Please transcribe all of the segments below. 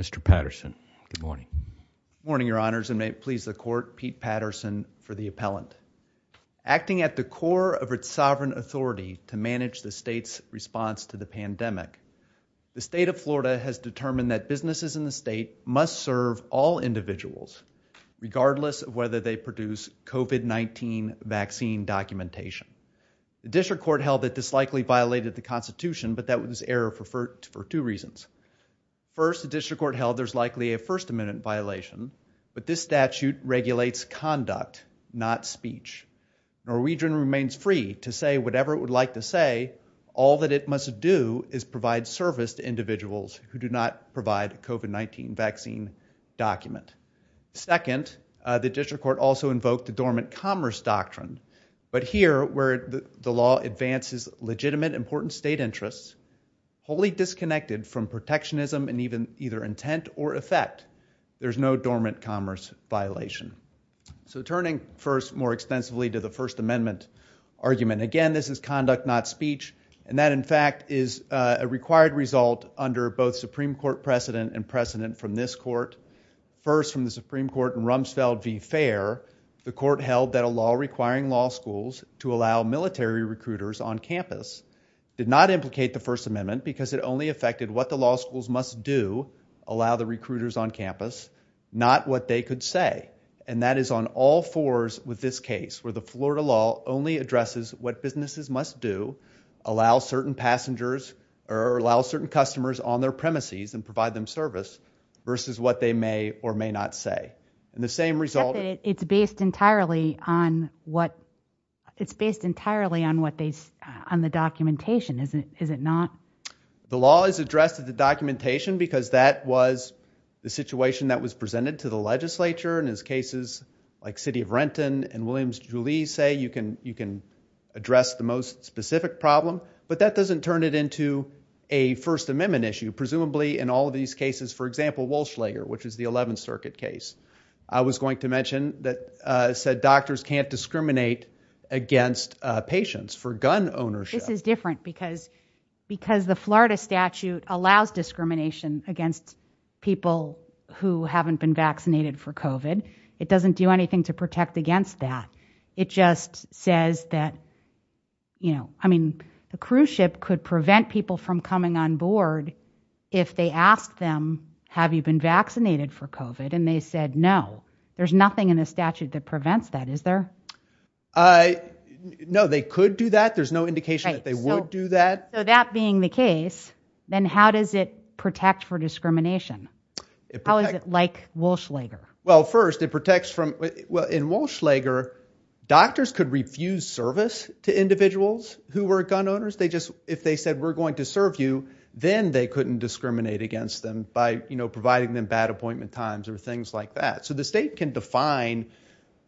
Mr. Patterson. Good morning. Good morning, Your Honors, and may it please the Court, Pete Patterson for the appellant. Acting at the core of its sovereign authority to manage the state's response to the pandemic, the state of Florida has determined that businesses in the state must serve all individuals regardless of whether they produce COVID-19 vaccine documentation. The District Court held that this likely violated the Constitution, but that was error for two reasons. First, the District Court held there's likely a First Amendment violation, but this statute regulates conduct, not speech. Norwegian remains free to say whatever it would like to say. All that it must do is provide service to individuals who do not provide COVID-19 vaccine document. Second, the District Court also invoked the dormant commerce doctrine, but here where the law advances legitimate important state interests, wholly disconnected from protectionism and even either intent or effect, there's no dormant commerce violation. Turning first more extensively to the First Amendment argument, again, this is conduct, not speech, and that, in fact, is a required result under both Supreme Court precedent and precedent from this Court. First, from the Supreme Court in Rumsfeld v. Fair, the Court held that a law requiring law schools to allow military recruiters on campus did not implicate the First Amendment because it only affected what the law schools must do, allow the recruiters on campus, not what they could say, and that is on all fours with this case where the Florida law only addresses what businesses must do, allow certain passengers or allow certain customers on their premises and provide them service versus what they may or may not say, and the same result. It's based entirely on what it's based entirely on what they on the documentation, isn't it? Is it not? The law is addressed at the documentation because that was the situation that was presented to the legislature in his cases like City of Renton and Williams-Julie say you can you can address the most specific problem, but that doesn't turn it into a First Amendment issue. Presumably, in all of these cases, for example, Walschlager, which is the 11th Circuit case, I was going to mention that said doctors can't discriminate against patients for gun ownership. This is different because the Florida statute allows discrimination against people who haven't been vaccinated for COVID. It doesn't do anything to protect against that. It just says that, you know, I mean, the cruise ship could prevent people from coming on board if they ask them, have you been vaccinated for COVID? And they said, no, there's nothing in the statute that prevents that, is there? No, they could do that. There's no indication that they would do that. So that being the case, then how does it protect for discrimination? How is it like Walschlager? Well, first, it protects from, well, in Walschlager, doctors could refuse service to individuals who were gun owners. They just, if they said we're going to serve you, then they couldn't discriminate against them by, you know, providing them bad appointment times or things like that. So the state can define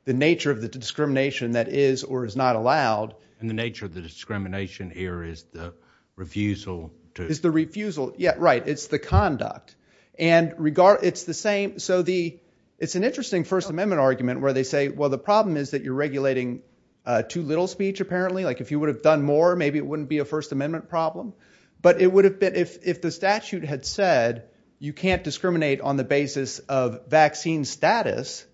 the nature of the discrimination that is or is not allowed. And the nature of the discrimination here is the refusal to. Is the refusal, yeah, right. It's the conduct. And regard, it's the same. So the, it's an interesting first amendment argument where they say, well, the problem is that you're regulating too little speech apparently, like if you would have done more, maybe it wouldn't be a first amendment problem. But it would have been, if the statute had said you can't discriminate on the basis of vaccine status,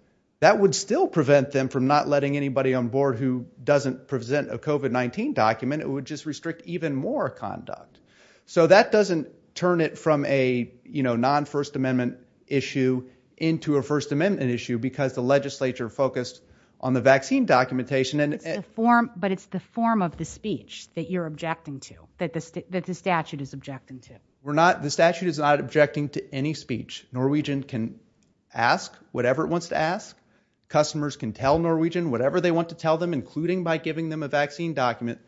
that would still prevent them from not letting anybody on board who doesn't present a COVID-19 document. It would just restrict even more conduct. So that doesn't turn it from a, you know, non first amendment issue into a first amendment issue because the legislature focused on the vaccine documentation and form, but it's the form of the speech that you're objecting to that, that the statute is objecting to. We're not, the statute is not objecting to any speech. Norwegian can ask whatever it wants to ask. Customers can tell Norwegian whatever they want to tell them, including by giving them a vaccine document.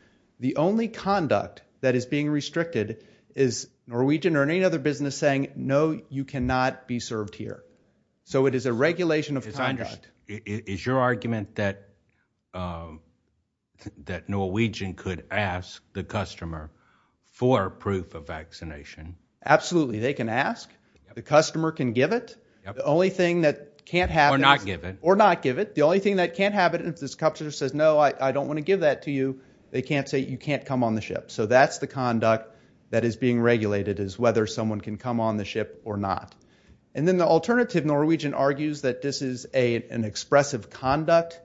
The only conduct that is being restricted is Norwegian or any other business saying, no, you cannot be served here. So it is a regulation of conduct. Is your argument that, um, that Norwegian could ask the customer for proof of vaccination? Absolutely. They can ask, the customer can give it. The only thing that can't have or not give it, or not give it. The only thing that can't have it, if this customer says, no, I don't want to give that to you. They can't say you can't come on the ship. So that's the conduct that is being regulated is whether someone can come on the ship or not. And then the alternative Norwegian argues that this is a, an expressive conduct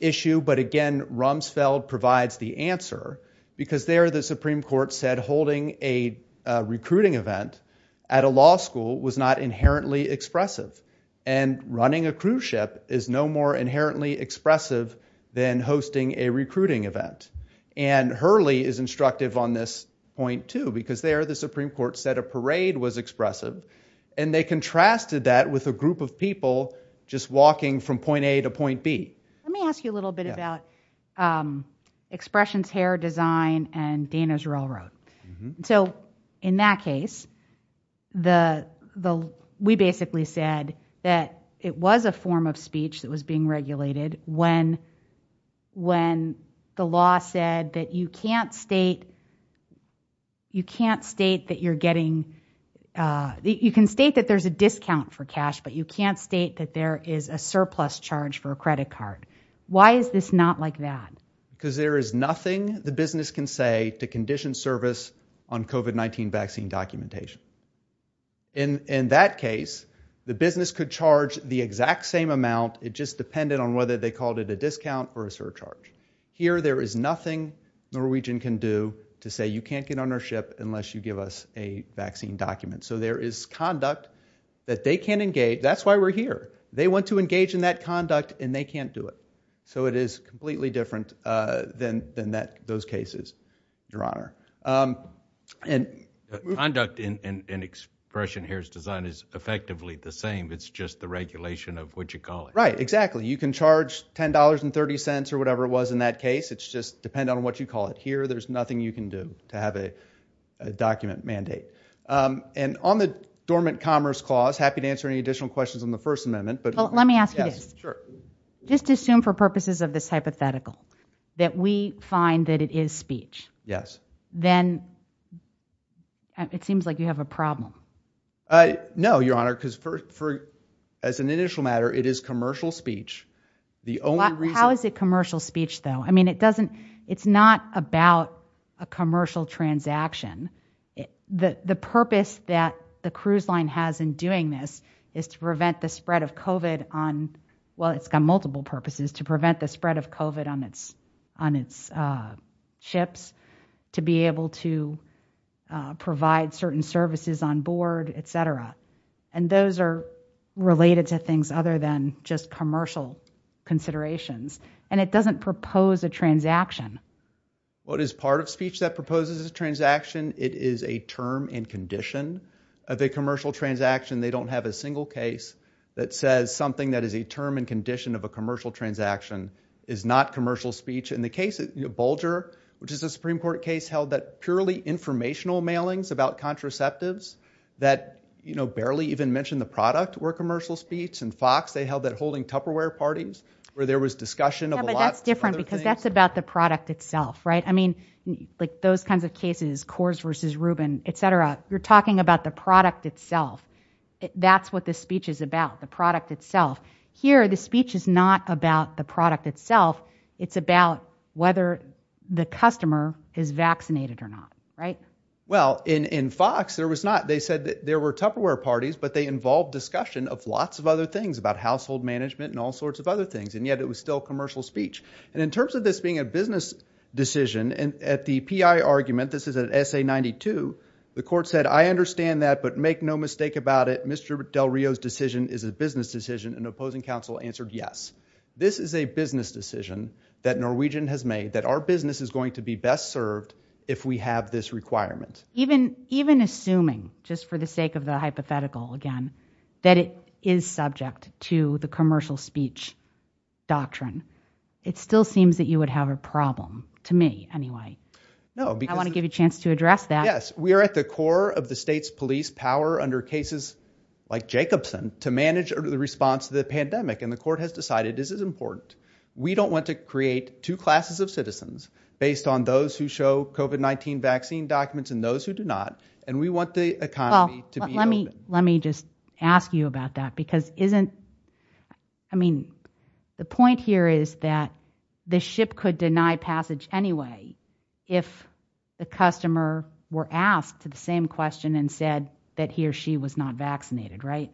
issue. But again, Rumsfeld provides the answer because there the Supreme Court said holding a recruiting event at a law school was not inherently expressive and running a cruise ship is no more inherently expressive than hosting a recruiting event. And Hurley is instructive on this point too, because there the Supreme Court said a parade was expressive and they contrasted that with a group of people just walking from point A to point B. Let me ask you a little bit about expressions, hair design, and Dana's railroad. So in that case, the, the, we basically said that it was a form of speech that was being regulated when, when the law said that you can't state, you can't state that you're getting, you can state that there's a discount for cash, but you can't state that there is a surplus charge for a credit card. Why is this not like that? Because there is nothing the business can say to condition service on COVID-19 vaccine documentation. In, in that case, the business could charge the exact same amount. It just depended on whether they called it a discount or a surcharge. Here, there is nothing Norwegian can do to say you can't get on our ship unless you give us a vaccine document. So there is conduct that they can't engage. That's why we're here. They want to engage in that conduct and they can't do it. So it is completely different than, than that, those cases, your honor. And conduct in, in, in expression, hair design is effectively the same. It's just the regulation of what you call it. Right, exactly. You can charge $10 and 30 cents or whatever it was in that case. It's just depend on what you call it here. There's nothing you can do to have a document mandate. And on the dormant commerce clause, happy to answer any additional questions on the first amendment, but let me ask you this. Sure. Just assume for purposes of this hypothetical that we find that it is speech. Yes. Then it seems like you have a problem. No, your honor. Cause for, for, as an initial matter, it is commercial speech. The only reason, how is it commercial speech though? I mean, it doesn't, it's not about a commercial transaction. The, the purpose that the cruise line has in doing this is to prevent the spread of COVID on, well, it's got multiple purposes to prevent the spread of COVID on its, on its, uh, ships to be able to, uh, provide certain services on board, et cetera. And those are related to things other than just commercial considerations. And it doesn't propose a transaction. Well, it is part of speech that proposes a transaction. It is a term and condition of a commercial transaction. They don't have a single case that says something that is a term and condition of a commercial transaction is not commercial speech in the case of Bulger, which is a Supreme court case held that purely informational mailings about contraceptives that, you know, barely even mentioned the product and Fox, they held that holding Tupperware parties where there was discussion of a lot. But that's different because that's about the product itself, right? I mean, like those kinds of cases, Coors versus Rubin, et cetera, you're talking about the product itself. That's what the speech is about. The product itself here, the speech is not about the product itself. It's about whether the customer is vaccinated or not. Right. Well, in, in Fox, there was not, they said that there were Tupperware parties, but they involved discussion of lots of other things about household management and all sorts of other things. And yet it was still commercial speech. And in terms of this being a business decision and at the PI argument, this is an essay 92. The court said, I understand that, but make no mistake about it. Mr. Del Rio's decision is a business decision and opposing counsel answered. Yes, this is a business decision that Norwegian has made that our business is going to be best served. If we have this requirement, even, even assuming just for the sake of the hypothetical again, that it is subject to the commercial speech doctrine, it still seems that you would have a problem to me anyway. No, I want to give you a chance to address that. Yes. We are at the core of the state's police power under cases like Jacobson to manage the response to the pandemic. And the court has decided this is important. We don't want to create two classes of citizens based on those who show COVID-19 vaccine documents and those who do not. And we want the economy to be, let me, let me just ask you about that because isn't, I mean, the point here is that the ship could deny passage anyway, if the customer were asked to the same question and said that he or she was not vaccinated, right?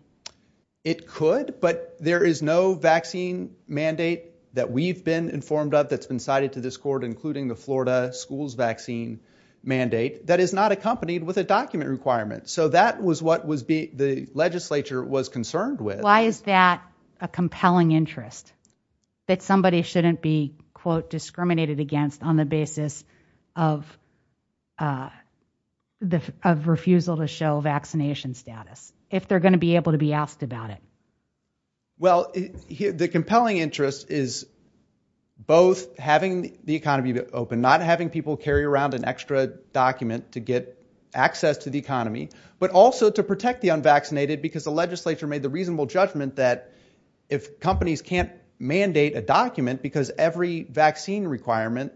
It could, but there is no the Florida schools vaccine mandate that is not accompanied with a document requirement. So that was what was being, the legislature was concerned with. Why is that a compelling interest that somebody shouldn't be quote discriminated against on the basis of, uh, the, of refusal to show vaccination status, if they're going to be able to be asked about it. Well, the compelling interest is both having the economy open, not having people carry around an extra document to get access to the economy, but also to protect the unvaccinated because the legislature made the reasonable judgment that if companies can't mandate a document because every vaccine requirement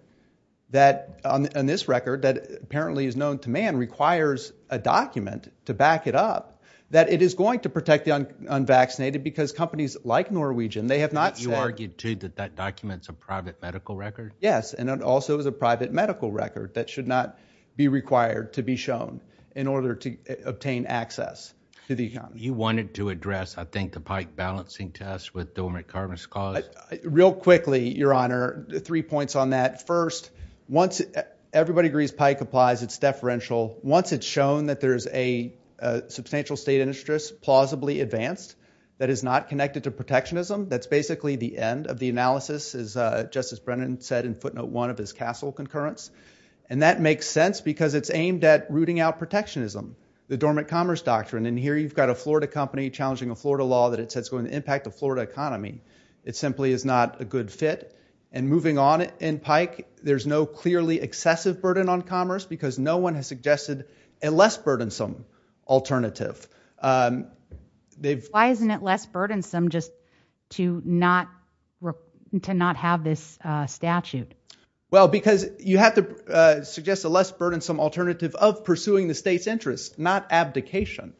that on this record that apparently is known to man requires a document to back it up, that it is going to protect the unvaccinated because companies like Norwegian, they have not argued to that, that documents a private medical record. Yes. And it also was a private medical record that should not be required to be shown in order to obtain access to the economy. You wanted to address, I think the pike balancing test with dormant carbon scars real quickly, your honor, three points on that. First, once everybody agrees, pike applies, it's deferential. Once it's shown that there's a, uh, substantial state interest, plausibly advanced that is not connected to protectionism. That's basically the end of the analysis is a justice. Brennan said in footnote one of his castle concurrence. And that makes sense because it's aimed at rooting out protectionism, the dormant commerce doctrine. And here you've got a Florida company challenging a Florida law that it says going to impact the Florida economy. It simply is not a good fit. And moving on in pike, there's no clearly excessive burden on commerce because no one suggested a less burdensome alternative. Um, they've, why isn't it less burdensome just to not, to not have this statute? Well, because you have to, uh, suggest a less burdensome alternative of pursuing the state's interests, not abdication.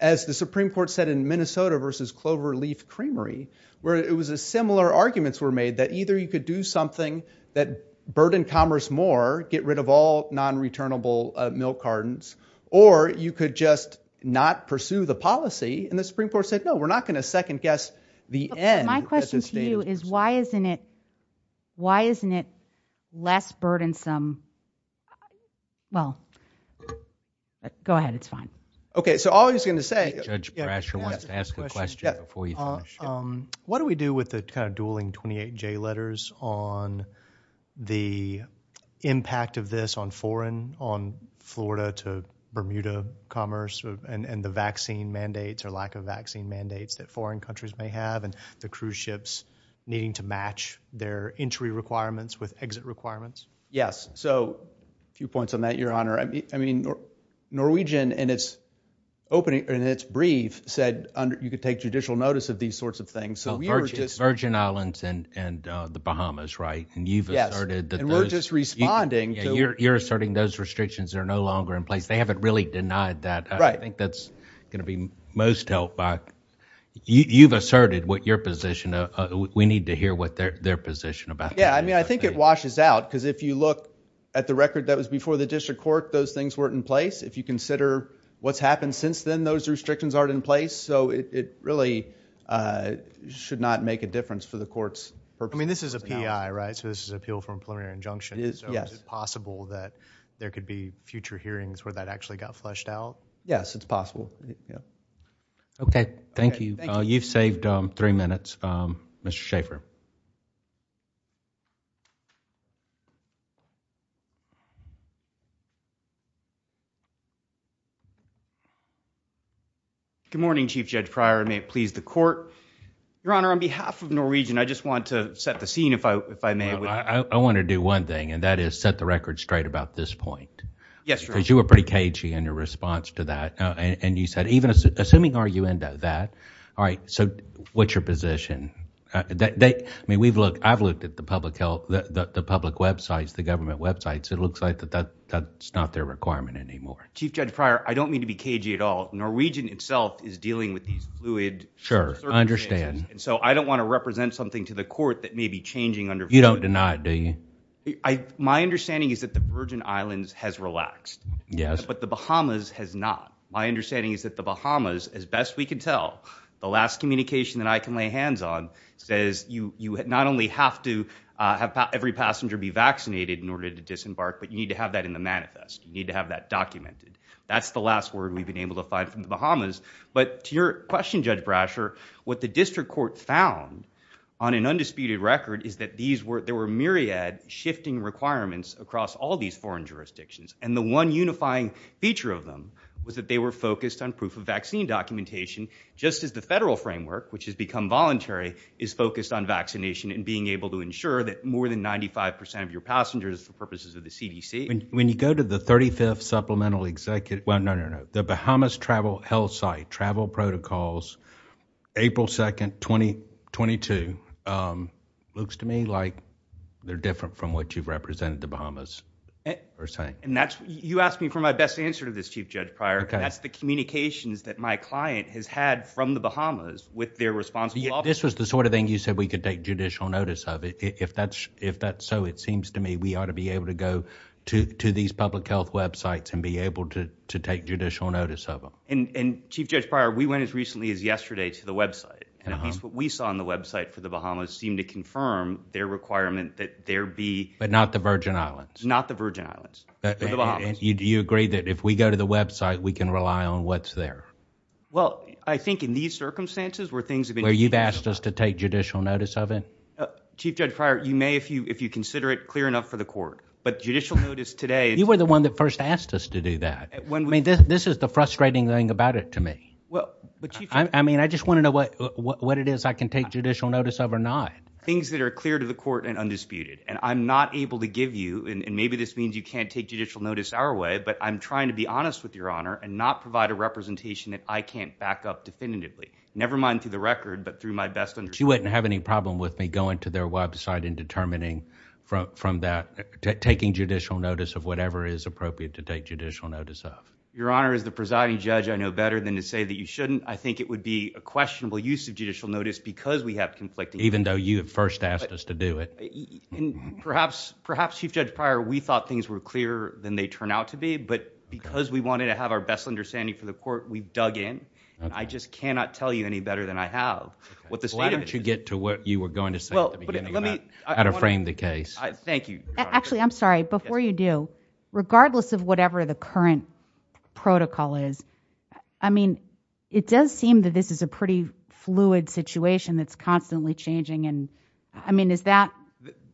As the Supreme court said in Minnesota versus Cloverleaf Creamery, where it was a similar arguments were made that either you could do something that burden commerce more, get rid of all non-returnable milk cartons, or you could just not pursue the policy. And the Supreme court said, no, we're not going to second guess the end. My question to you is why isn't it, why isn't it less burdensome? Well, go ahead. It's fine. Okay. So all he's going to say, ask the question before you finish. Um, what do we do with the kind of dueling 28 J letters on the impact of this on foreign, on Florida to Bermuda commerce and the vaccine mandates or lack of vaccine mandates that foreign countries may have and the cruise ships needing to match their entry requirements with exit requirements. Yes. So a few points on that, your honor. I mean, Norwegian and it's opening and it's brief said under, you could take judicial notice of these sorts of things. So we are just Virgin islands and, and, uh, the Bahamas, right. And you've asserted that we're just responding to you're, you're asserting those restrictions are no longer in place. They haven't really denied that. I think that's going to be most helped by you. You've asserted what your position, uh, we need to hear what their, their position about. Yeah. I mean, I think it washes out. Cause if you look at the record, that was before the district court, those things weren't in place. If you consider what's happened since then, those restrictions aren't in place. So it really, uh, should not make a difference for the court's purpose. I mean, this is a PI, right? So this is appeal from preliminary injunction. Is it possible that there could be future hearings where that actually got fleshed out? Yes, it's possible. Yeah. Okay. Thank you. You've saved three minutes. Mr. Schaffer. Good morning, chief judge prior. May it please the court, your honor, on behalf of Norwegian, I just want to set the scene. If I, if I may, I want to do one thing and that is set the record straight about this point. Yes. Cause you were pretty cagey in your response to that. And you said, even assuming, are you into that? All right. So what's your position that they, I mean, we've looked, I've looked at the public health, the public websites, the government websites. It looks like that, that that's not their requirement anymore. Chief judge prior. I don't mean to be cagey at all. Norwegian itself is dealing with these fluid. Sure. I understand. And so I don't want to represent something to the court that may be changing under, you don't deny it. Do you, I, my understanding is that the Virgin islands has relaxed, yes, but the Bahamas has not. My understanding is that the Bahamas as best we can tell the last communication that I can lay hands on says you, you not only have to have every passenger be vaccinated in order to disembark, but you need to have that in the manifest. You need to have that documented. That's the last word we've been able to find from the Bahamas. But to your question, judge Brasher, what the district court found on an undisputed record is that these were, there were myriad shifting requirements across all these foreign jurisdictions. And the one unifying feature of them was that they were focused on proof of vaccine documentation, just as the federal framework, which has become voluntary is focused on vaccination and being able to ensure that more than 95% of your passengers for purposes of the CDC. When you go to the 35th supplemental executive, well, no, no, no, no. The Bahamas travel health site, travel protocols, april 2nd, 2022. Um, looks to me like they're different from what you've this chief judge prior. That's the communications that my client has had from the Bahamas with their response. This was the sort of thing you said we could take judicial notice of it. If that's, if that's so, it seems to me we ought to be able to go to, to these public health websites and be able to, to take judicial notice of them. And, and chief judge prior, we went as recently as yesterday to the website. And at least what we saw on the website for the Bahamas seemed to confirm their requirement that there be, but not the virgin islands, not the virgin islands, you agree that if we go to the website, we can rely on what's there. Well, I think in these circumstances where things have been, where you've asked us to take judicial notice of it, chief judge prior, you may, if you, if you consider it clear enough for the court, but judicial notice today, you were the one that first asked us to do that. I mean, this is the frustrating thing about it to me. Well, I mean, I just want to know what, what it is I can take judicial notice of or not things that are clear to the court and undisputed, and I'm not able to judicial notice our way, but I'm trying to be honest with your honor and not provide a representation that I can't back up definitively, nevermind through the record, but through my best and she wouldn't have any problem with me going to their website and determining from that taking judicial notice of whatever is appropriate to take judicial notice of your honor is the presiding judge. I know better than to say that you shouldn't, I think it would be a questionable use of judicial notice because we have conflicting, even though you had first asked us to do it. And perhaps, perhaps you've judged prior. We thought things were clearer than they turn out to be, but because we wanted to have our best understanding for the court, we've dug in and I just cannot tell you any better than I have what the state of it should get to what you were going to say at the beginning, how to frame the case. Thank you. Actually, I'm sorry, before you do, regardless of whatever the current protocol is, I mean, it does seem that this is a pretty fluid situation that's constantly changing. And I mean, is that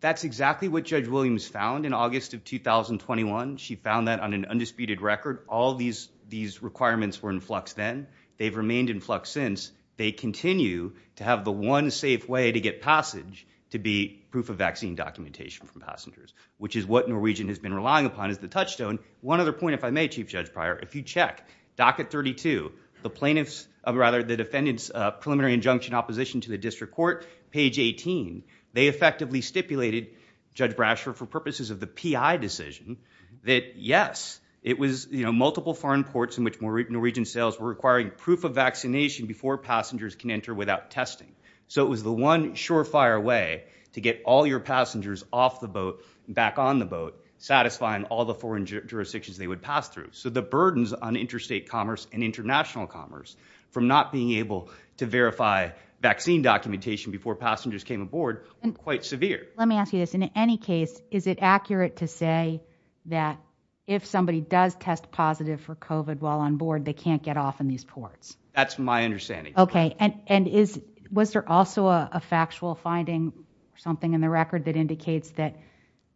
that's exactly what judge Williams found in August of 2021. She found that on an undisputed record, all these, these requirements were in flux, then they've remained in flux since they continue to have the one safe way to get passage to be proof of vaccine documentation from passengers, which is what Norwegian has been relying upon as the touchstone. One other point, if I may, chief judge prior, if you check docket 32, the plaintiffs of rather the defendant's preliminary injunction opposition to the district court, page 18, they effectively stipulated judge Brasher for purposes of the PI decision that yes, it was, you know, multiple foreign courts in which Norwegian sales were requiring proof of vaccination before passengers can enter without testing. So it was the one surefire way to get all your passengers off the boat, back on the boat, satisfying all the foreign jurisdictions they would pass through. So the burdens on interstate commerce and international commerce from not being able to verify vaccine documentation before passengers came aboard quite severe. Let me ask you this. In any case, is it accurate to say that if somebody does test positive for COVID while on board, they can't get off in these ports. That's my understanding. Okay. And, and is, was there also a factual finding or something in the record that indicates that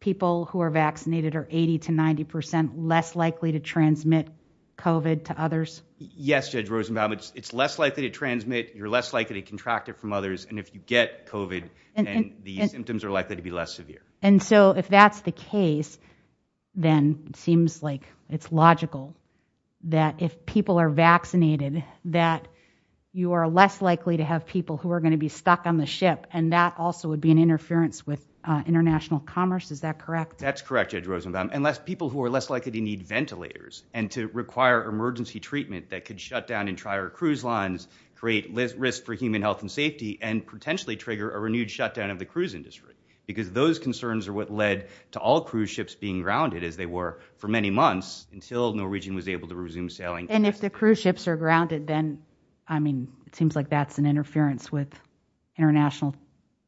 people who are vaccinated are 80 to 90% less likely to transmit COVID to others? Yes. Judge Rosenbaum, it's, it's less likely to transmit, you're less likely to contract it from others. And if you get COVID and the symptoms are likely to be less severe. And so if that's the case, then it seems like it's logical that if people are vaccinated, that you are less likely to have people who are going to be stuck on the ship. And that also would be an interference with international commerce. Is that correct? That's correct. Judge Rosenbaum, unless people who are less likely to need ventilators and to require emergency treatment that could shut down and try our cruise lines, create risk for human health and safety, and potentially trigger a renewed shutdown of the cruise industry. Because those concerns are what led to all cruise ships being grounded as they were for many months until Norwegian was able to resume sailing. And if the cruise ships are grounded, then, I mean, it seems like that's an interference with international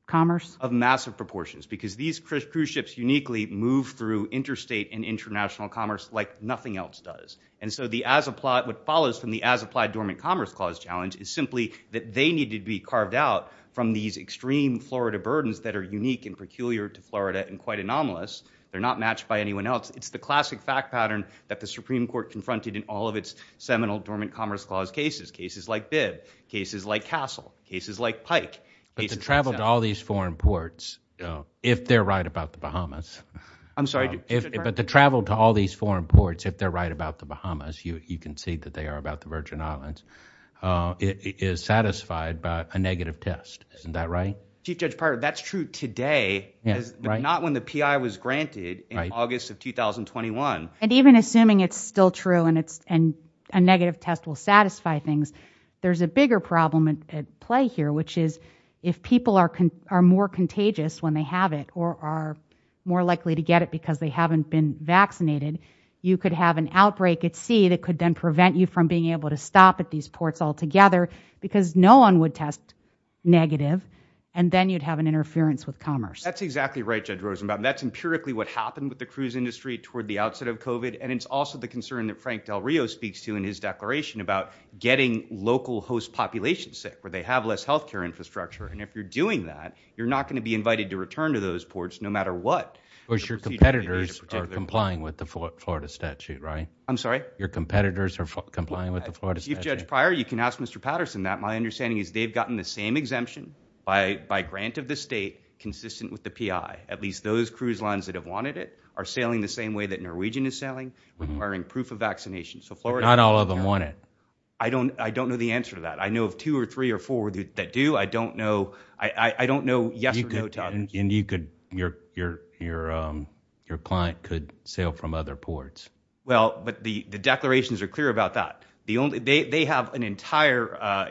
commerce. Of massive proportions, because these cruise ships uniquely move through interstate and international commerce like nothing else does. And so the as applied, what follows from the as applied dormant commerce clause challenge is simply that they need to be carved out from these extreme Florida burdens that are unique and peculiar to Florida and quite anomalous. They're not matched by anyone else. It's the classic fact pattern that the Supreme Court confronted in all of its seminal dormant commerce clause cases, cases like Bibb, cases like Castle, cases like Pike. But to travel to all these foreign ports, if they're right about the Bahamas. I'm sorry. But to travel to all these foreign ports, if they're right about the Bahamas, you can see that they are about the Virgin Islands, is satisfied by a negative test. Isn't that right? Chief Judge Pardo, that's true today, but not when the P.I. was granted in August of 2021. And even assuming it's still true and a negative test will satisfy things, there's a bigger problem at play here, which is if people are are more contagious when they have it or are more likely to get it because they haven't been vaccinated, you could have an outbreak at sea that could then prevent you from being able to stop at these ports altogether because no one would test negative and then you'd have an interference with commerce. That's exactly right, Judge Rosenbaum. That's empirically what happened with the cruise industry toward the outset of covid. And it's also the concern that Frank Del Rio speaks to in his declaration about getting local host populations sick where they have less health care infrastructure. And if you're doing that, you're not going to be invited to return to those ports no matter what. Because your competitors are complying with the Florida statute, right? I'm sorry? Your competitors are complying with the Florida statute? Chief Judge Pryor, you can ask Mr. Patterson that. My understanding is they've gotten the same exemption by grant of the state consistent with the P.I. At least those cruise lines that have wanted it are sailing the same way that I don't. I don't know the answer to that. I know of two or three or four that do. I don't know. I don't know. Yes or no. And you could, your client could sail from other ports. Well, but the declarations are clear about that. They have an entire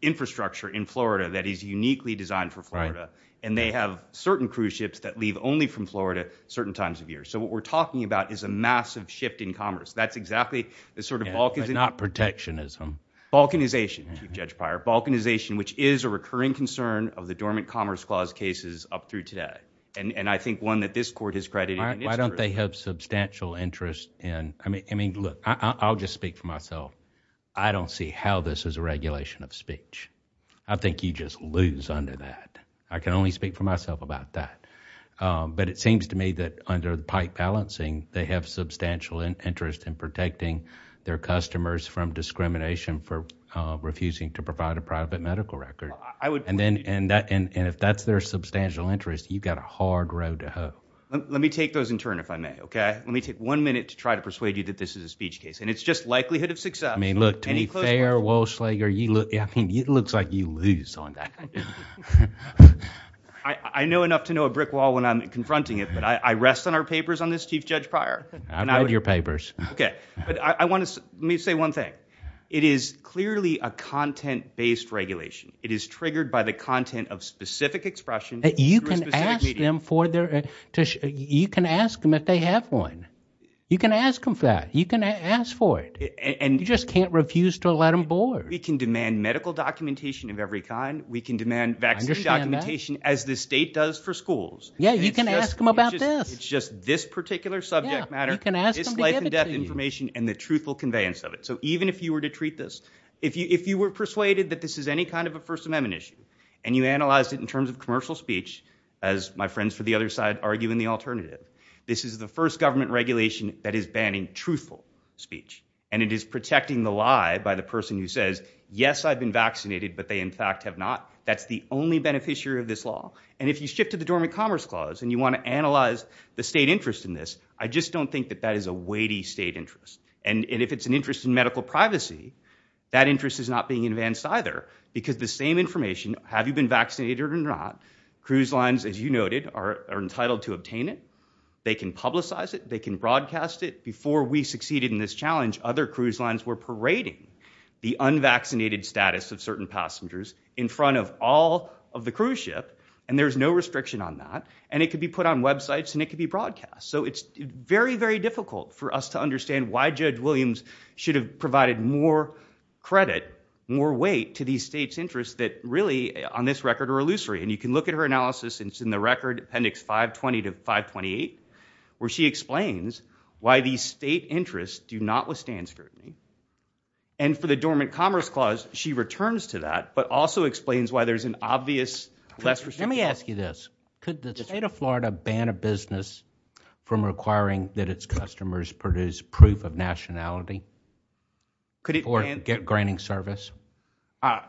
infrastructure in Florida that is uniquely designed for Florida. And they have certain cruise ships that leave only from Florida certain times of year. So what we're talking about is a massive shift in commerce. That's exactly the sort of balkanism. Not protectionism. Balkanization, Chief Judge Pryor. Balkanization, which is a recurring concern of the Dormant Commerce Clause cases up through today. And I think one that this court has credited. Why don't they have substantial interest in, I mean, look, I'll just speak for myself. I don't see how this is a regulation of speech. I think you just lose under that. I can only speak for myself about that. But it seems to me under the pipe balancing, they have substantial interest in protecting their customers from discrimination for refusing to provide a private medical record. And if that's their substantial interest, you've got a hard road to hoe. Let me take those in turn, if I may, okay? Let me take one minute to try to persuade you that this is a speech case. And it's just likelihood of success. I mean, look, to be fair, Walsh-Lager, I mean, it looks like you lose on that. I know enough to know a brick wall when I'm confronting it, but I rest on our papers on this, Chief Judge Pryor. I've read your papers. Okay. But I want to, let me say one thing. It is clearly a content-based regulation. It is triggered by the content of specific expression. You can ask them for their, you can ask them if they have one. You can ask them for that. You can ask for it. And you just can't refuse to let them board. We can demand medical documentation of every kind. We can demand vaccination documentation as the state does for schools. Yeah, you can ask them about this. It's just this particular subject matter, this life and death information and the truthful conveyance of it. So even if you were to treat this, if you were persuaded that this is any kind of a first amendment issue and you analyzed it in terms of commercial speech, as my friends for the other side argue in the alternative, this is the first government regulation that is banning truthful speech. And it is protecting the lie by the person who says, yes, I've been vaccinated, but they in fact have not. That's the only beneficiary of this law. And if you shift to the dormant commerce clause and you want to analyze the state interest in this, I just don't think that that is a weighty state interest. And if it's an interest in medical privacy, that interest is not being advanced either because the same information, have you been vaccinated or not? Cruise lines, as you noted, are entitled to obtain it. They can publicize it. They can broadcast it. Before we succeeded in this challenge, other cruise lines were parading the unvaccinated status of certain passengers in front of all of the cruise ship. And there's no restriction on that. And it could be put on websites and it could be broadcast. So it's very, very difficult for us to understand why Judge Williams should have provided more credit, more weight to these states' interests that really on this record are illusory. And you can look at her analysis and it's in the record appendix 520 to 528, where she explains why these state interests do not withstand scrutiny. And for the dormant commerce clause, she returns to that, but also explains why there's an obvious less restriction. Let me ask you this, could the state of Florida ban a business from requiring that its customers produce proof of nationality or get granting service?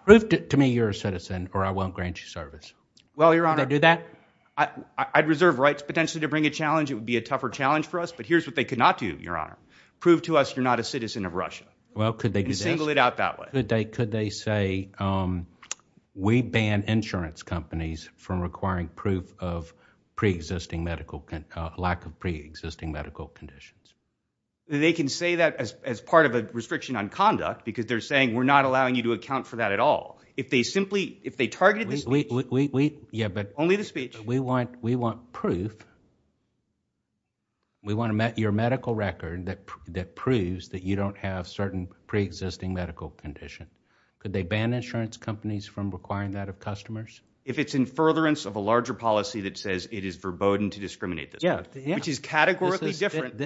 Prove to me you're a citizen or I won't grant you service. Well, Your Honor. Would they do that? I'd reserve rights potentially to bring a challenge. It would be a tougher challenge for us. But here's what they could not do, prove to us you're not a citizen of Russia. Well, could they single it out that way? Could they say we ban insurance companies from requiring proof of pre-existing medical, lack of pre-existing medical conditions? They can say that as part of a restriction on conduct, because they're saying we're not allowing you to account for that at all. If they simply, if they targeted this, we, we, we, we, yeah, but only the speech we want, we want proof. We want to met your medical record that, that proves that you don't have certain pre-existing medical condition. Could they ban insurance companies from requiring that of customers? If it's in furtherance of a larger policy that says it is verboden to discriminate this, which is categorically different,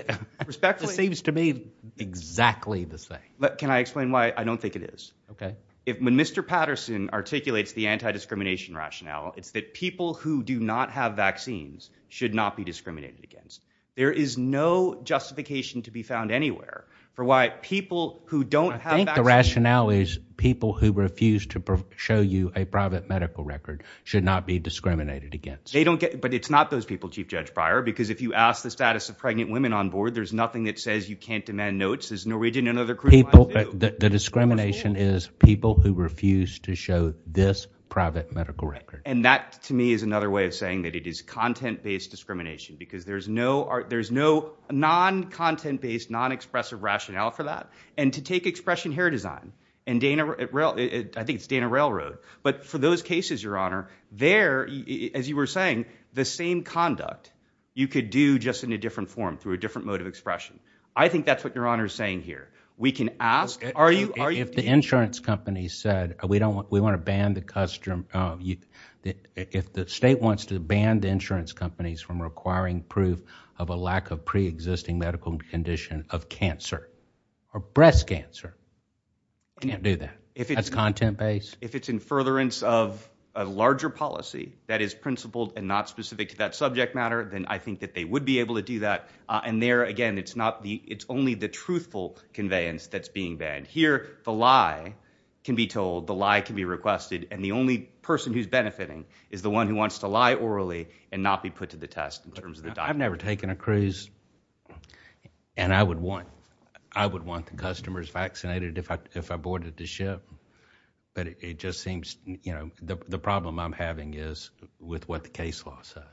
respectfully, seems to me exactly the same, but can I explain why I don't think it is? Okay. If Mr. Patterson articulates the anti-discrimination rationale, it's that people who do not have vaccines should not be discriminated against. There is no justification to be found anywhere for why people who don't have I think the rationale is people who refuse to show you a private medical record should not be discriminated against. They don't get, but it's not those people, Chief Judge Breyer, because if you ask the status of pregnant women on board, there's nothing that says you can't demand notes as Norwegian and other. The discrimination is people who refuse to show this private medical record. And that to me is another way of saying that it is content-based discrimination because there's no, there's no non-content-based, non-expressive rationale for that. And to take expression hair design and Dana, I think it's Dana Railroad, but for those cases, Your Honor, there, as you were saying, the same conduct you could do just in a different form through a insurance company said we don't want, we want to ban the custom of you. If the state wants to ban the insurance companies from requiring proof of a lack of preexisting medical condition of cancer or breast cancer, we can't do that. If it's content-based, if it's in furtherance of a larger policy that is principled and not specific to that subject matter, then I think they would be able to do that. Uh, and there again, it's not the, it's only the truthful conveyance that's being banned here. The lie can be told, the lie can be requested. And the only person who's benefiting is the one who wants to lie orally and not be put to the test in terms of the diet. I've never taken a cruise and I would want, I would want the customers vaccinated if I, if I boarded the ship, but it just seems, you know, the problem I'm having is with what the law says.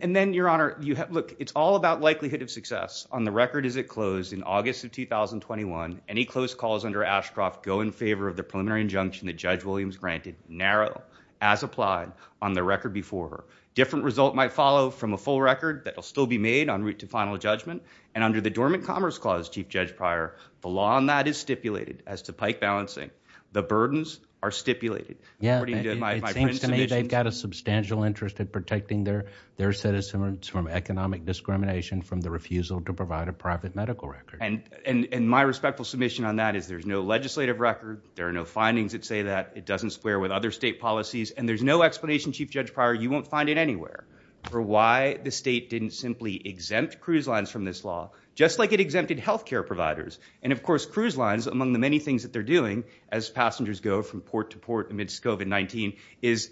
And then your honor, you have, look, it's all about likelihood of success on the record as it closed in August of 2021, any close calls under Ashcroft go in favor of the preliminary injunction that judge Williams granted narrow as applied on the record before her different result might follow from a full record that will still be made on route to final judgment. And under the dormant commerce clause, chief judge prior, the law on that is stipulated as to pike balancing. The burdens are stipulated. Yeah. They've got a substantial interest in protecting their, their citizens from economic discrimination, from the refusal to provide a private medical record. And my respectful submission on that is there's no legislative record. There are no findings that say that it doesn't square with other state policies. And there's no explanation. Chief judge prior, you won't find it anywhere for why the state didn't simply exempt cruise lines from this law, just like it exempted healthcare providers. And of course, cruise lines among the many things that they're doing as passengers go from port to port amidst COVID-19 is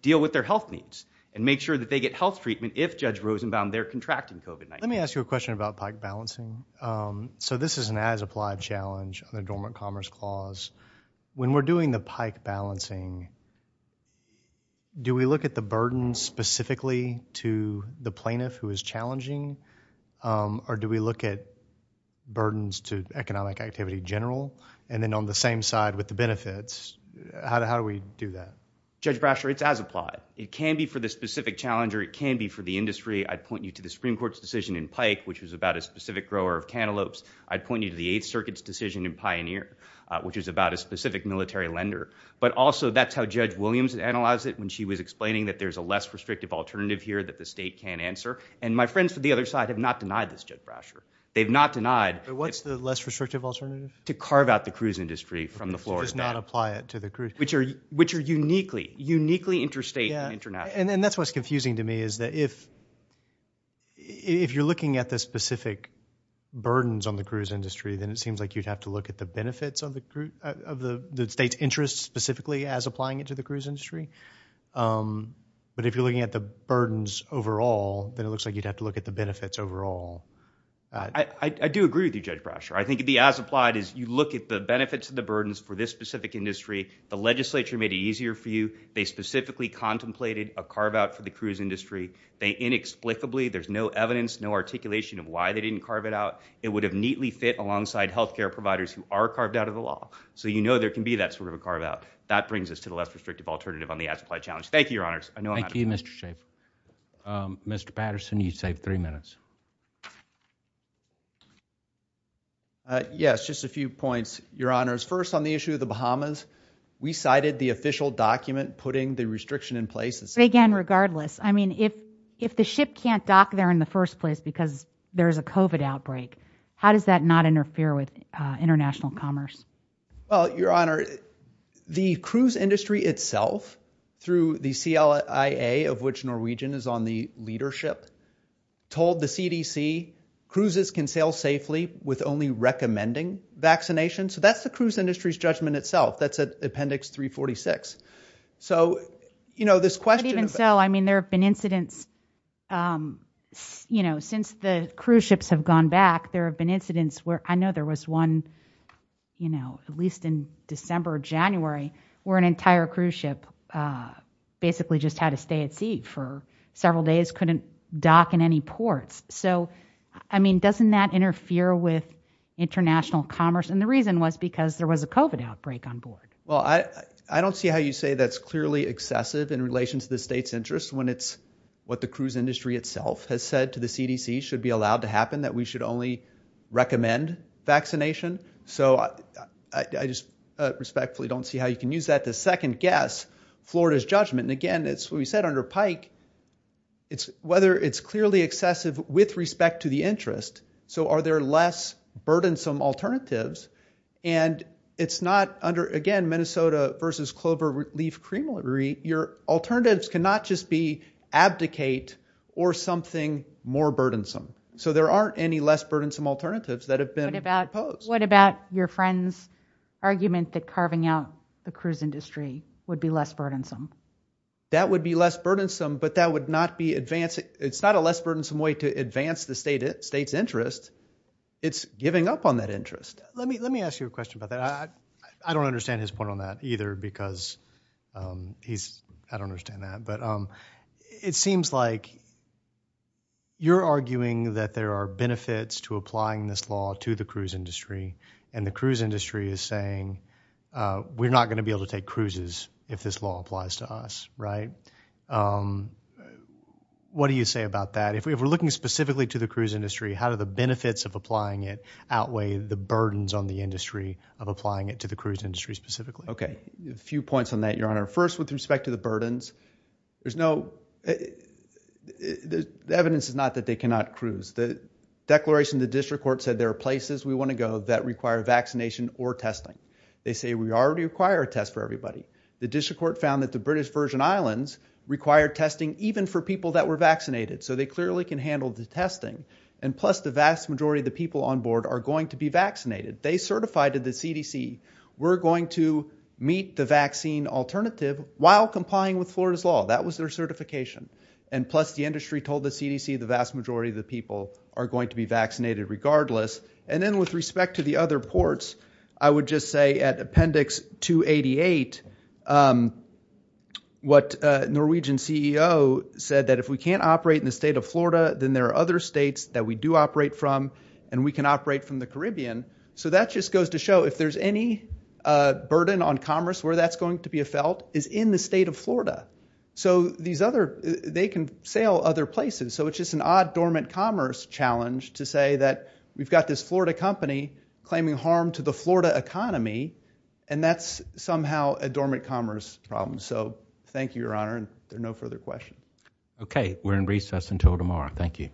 deal with their health needs and make sure that they get health treatment. If judge Rosenbaum they're contracting COVID-19, let me ask you a question about pike balancing. Um, so this is an as applied challenge on the dormant commerce clause. When we're doing the pike balancing, do we look at the burden specifically to the plaintiff who is challenging? Um, or do we look at burdens to economic activity general, and then on the same side with the judge Brasher, it's as applied. It can be for the specific challenger. It can be for the industry. I'd point you to the Supreme court's decision in pike, which was about a specific grower of cantaloupes. I'd point you to the eighth circuits decision in pioneer, which is about a specific military lender. But also that's how judge Williams analyzed it when she was explaining that there's a less restrictive alternative here that the state can answer. And my friends for the other side have not denied this judge Brasher. They've not denied what's the less restrictive alternative to carve out the cruise industry from the floor does not apply it to the which are uniquely, uniquely interstate and international. And that's what's confusing to me is that if, if you're looking at the specific burdens on the cruise industry, then it seems like you'd have to look at the benefits of the group of the state's interests specifically as applying it to the cruise industry. Um, but if you're looking at the burdens overall, then it looks like you'd have to look at the benefits overall. I do agree with you judge Brasher. I think it'd be as applied as you look at the benefits of the burdens for this specific industry. The legislature made it easier for you. They specifically contemplated a carve out for the cruise industry. They inexplicably, there's no evidence, no articulation of why they didn't carve it out. It would have neatly fit alongside healthcare providers who are carved out of the law. So, you know, there can be that sort of a carve out that brings us to the less restrictive alternative on the ad supply challenge. Thank you, your honors. Thank you, Mr shape. Um, Mr Patterson, you saved three minutes. Uh, yes, just a few points, your honors. First on the issue of the Bahamas, we cited the official document putting the restriction in place again regardless. I mean, if if the ship can't dock there in the first place because there is a covid outbreak, how does that not interfere with international commerce? Well, your honor, the cruise industry itself through the C. L. I. A. Of which Norwegian is on the leadership told the C. D. C. Cruises can sail safely with only recommending vaccination. So that's the cruise industry's judgment itself. That's an appendix 3 46. So, you know, this question even so, I mean, there have been incidents. Um, you know, since the cruise ships have gone back, there have been incidents where I know there was one, you know, at least in December, January, where an entire cruise ship, uh, basically just had to stay at sea for several days, couldn't dock in any ports. So, I mean, doesn't that interfere with international commerce? And the reason was because there was a covid outbreak on board. Well, I don't see how you say that's clearly excessive in relation to the state's interest when it's what the cruise industry itself has said to the C. D. C. Should be allowed to happen that we should only recommend vaccination. So I just respectfully don't see how you can use that to second guess florida's judgment. And again, it's what we said under pike, it's whether it's clearly excessive with respect to the interest. So are there less burdensome alternatives? And it's not under again, Minnesota versus clover leaf creamery. Your alternatives cannot just be abdicate or something more burdensome. So there aren't any less burdensome alternatives that have been proposed. What about your friend's argument that carving out the cruise industry would be less burdensome? That would be less burdensome, but that would not be advancing. It's not a less burdensome way to advance the state, state's interest. It's giving up on that interest. Let me let me ask you a question about that. I I don't understand that. But um, it seems like you're arguing that there are benefits to applying this law to the cruise industry. And the cruise industry is saying, uh, we're not going to be able to take cruises if this law applies to us, right? Um, what do you say about that? If we're looking specifically to the cruise industry, how do the benefits of applying it outweigh the burdens on the industry of applying it to the cruise industry specifically? Okay. A few points on that. Your honor. First, with respect to the burdens, there's no, the evidence is not that they cannot cruise the declaration. The district court said there are places we want to go that require vaccination or testing. They say we already require a test for everybody. The district court found that the british version islands required testing even for people that were vaccinated. So they clearly can handle the testing. And plus the vast majority of the people on board are going to be vaccinated. They certified to the CDC, we're going to meet the vaccine alternative while complying with florida's law. That was their certification. And plus the industry told the CDC, the vast majority of the people are going to be vaccinated regardless. And then with respect to the other ports, I would just say at appendix two 88, um, what a Norwegian ceo said that if we can't operate in the state of florida, then there are other states that we do operate from and we can operate from the caribbean. So that just goes to show if there's any burden on commerce where that's going to be a felt is in the state of florida. So these other, they can sail other places. So it's just an odd dormant commerce challenge to say that we've got this florida company claiming harm to the florida economy and that's somehow a dormant commerce problem. So thank you, your honor. And there are no further questions. Okay, we're in recess until tomorrow. Thank you.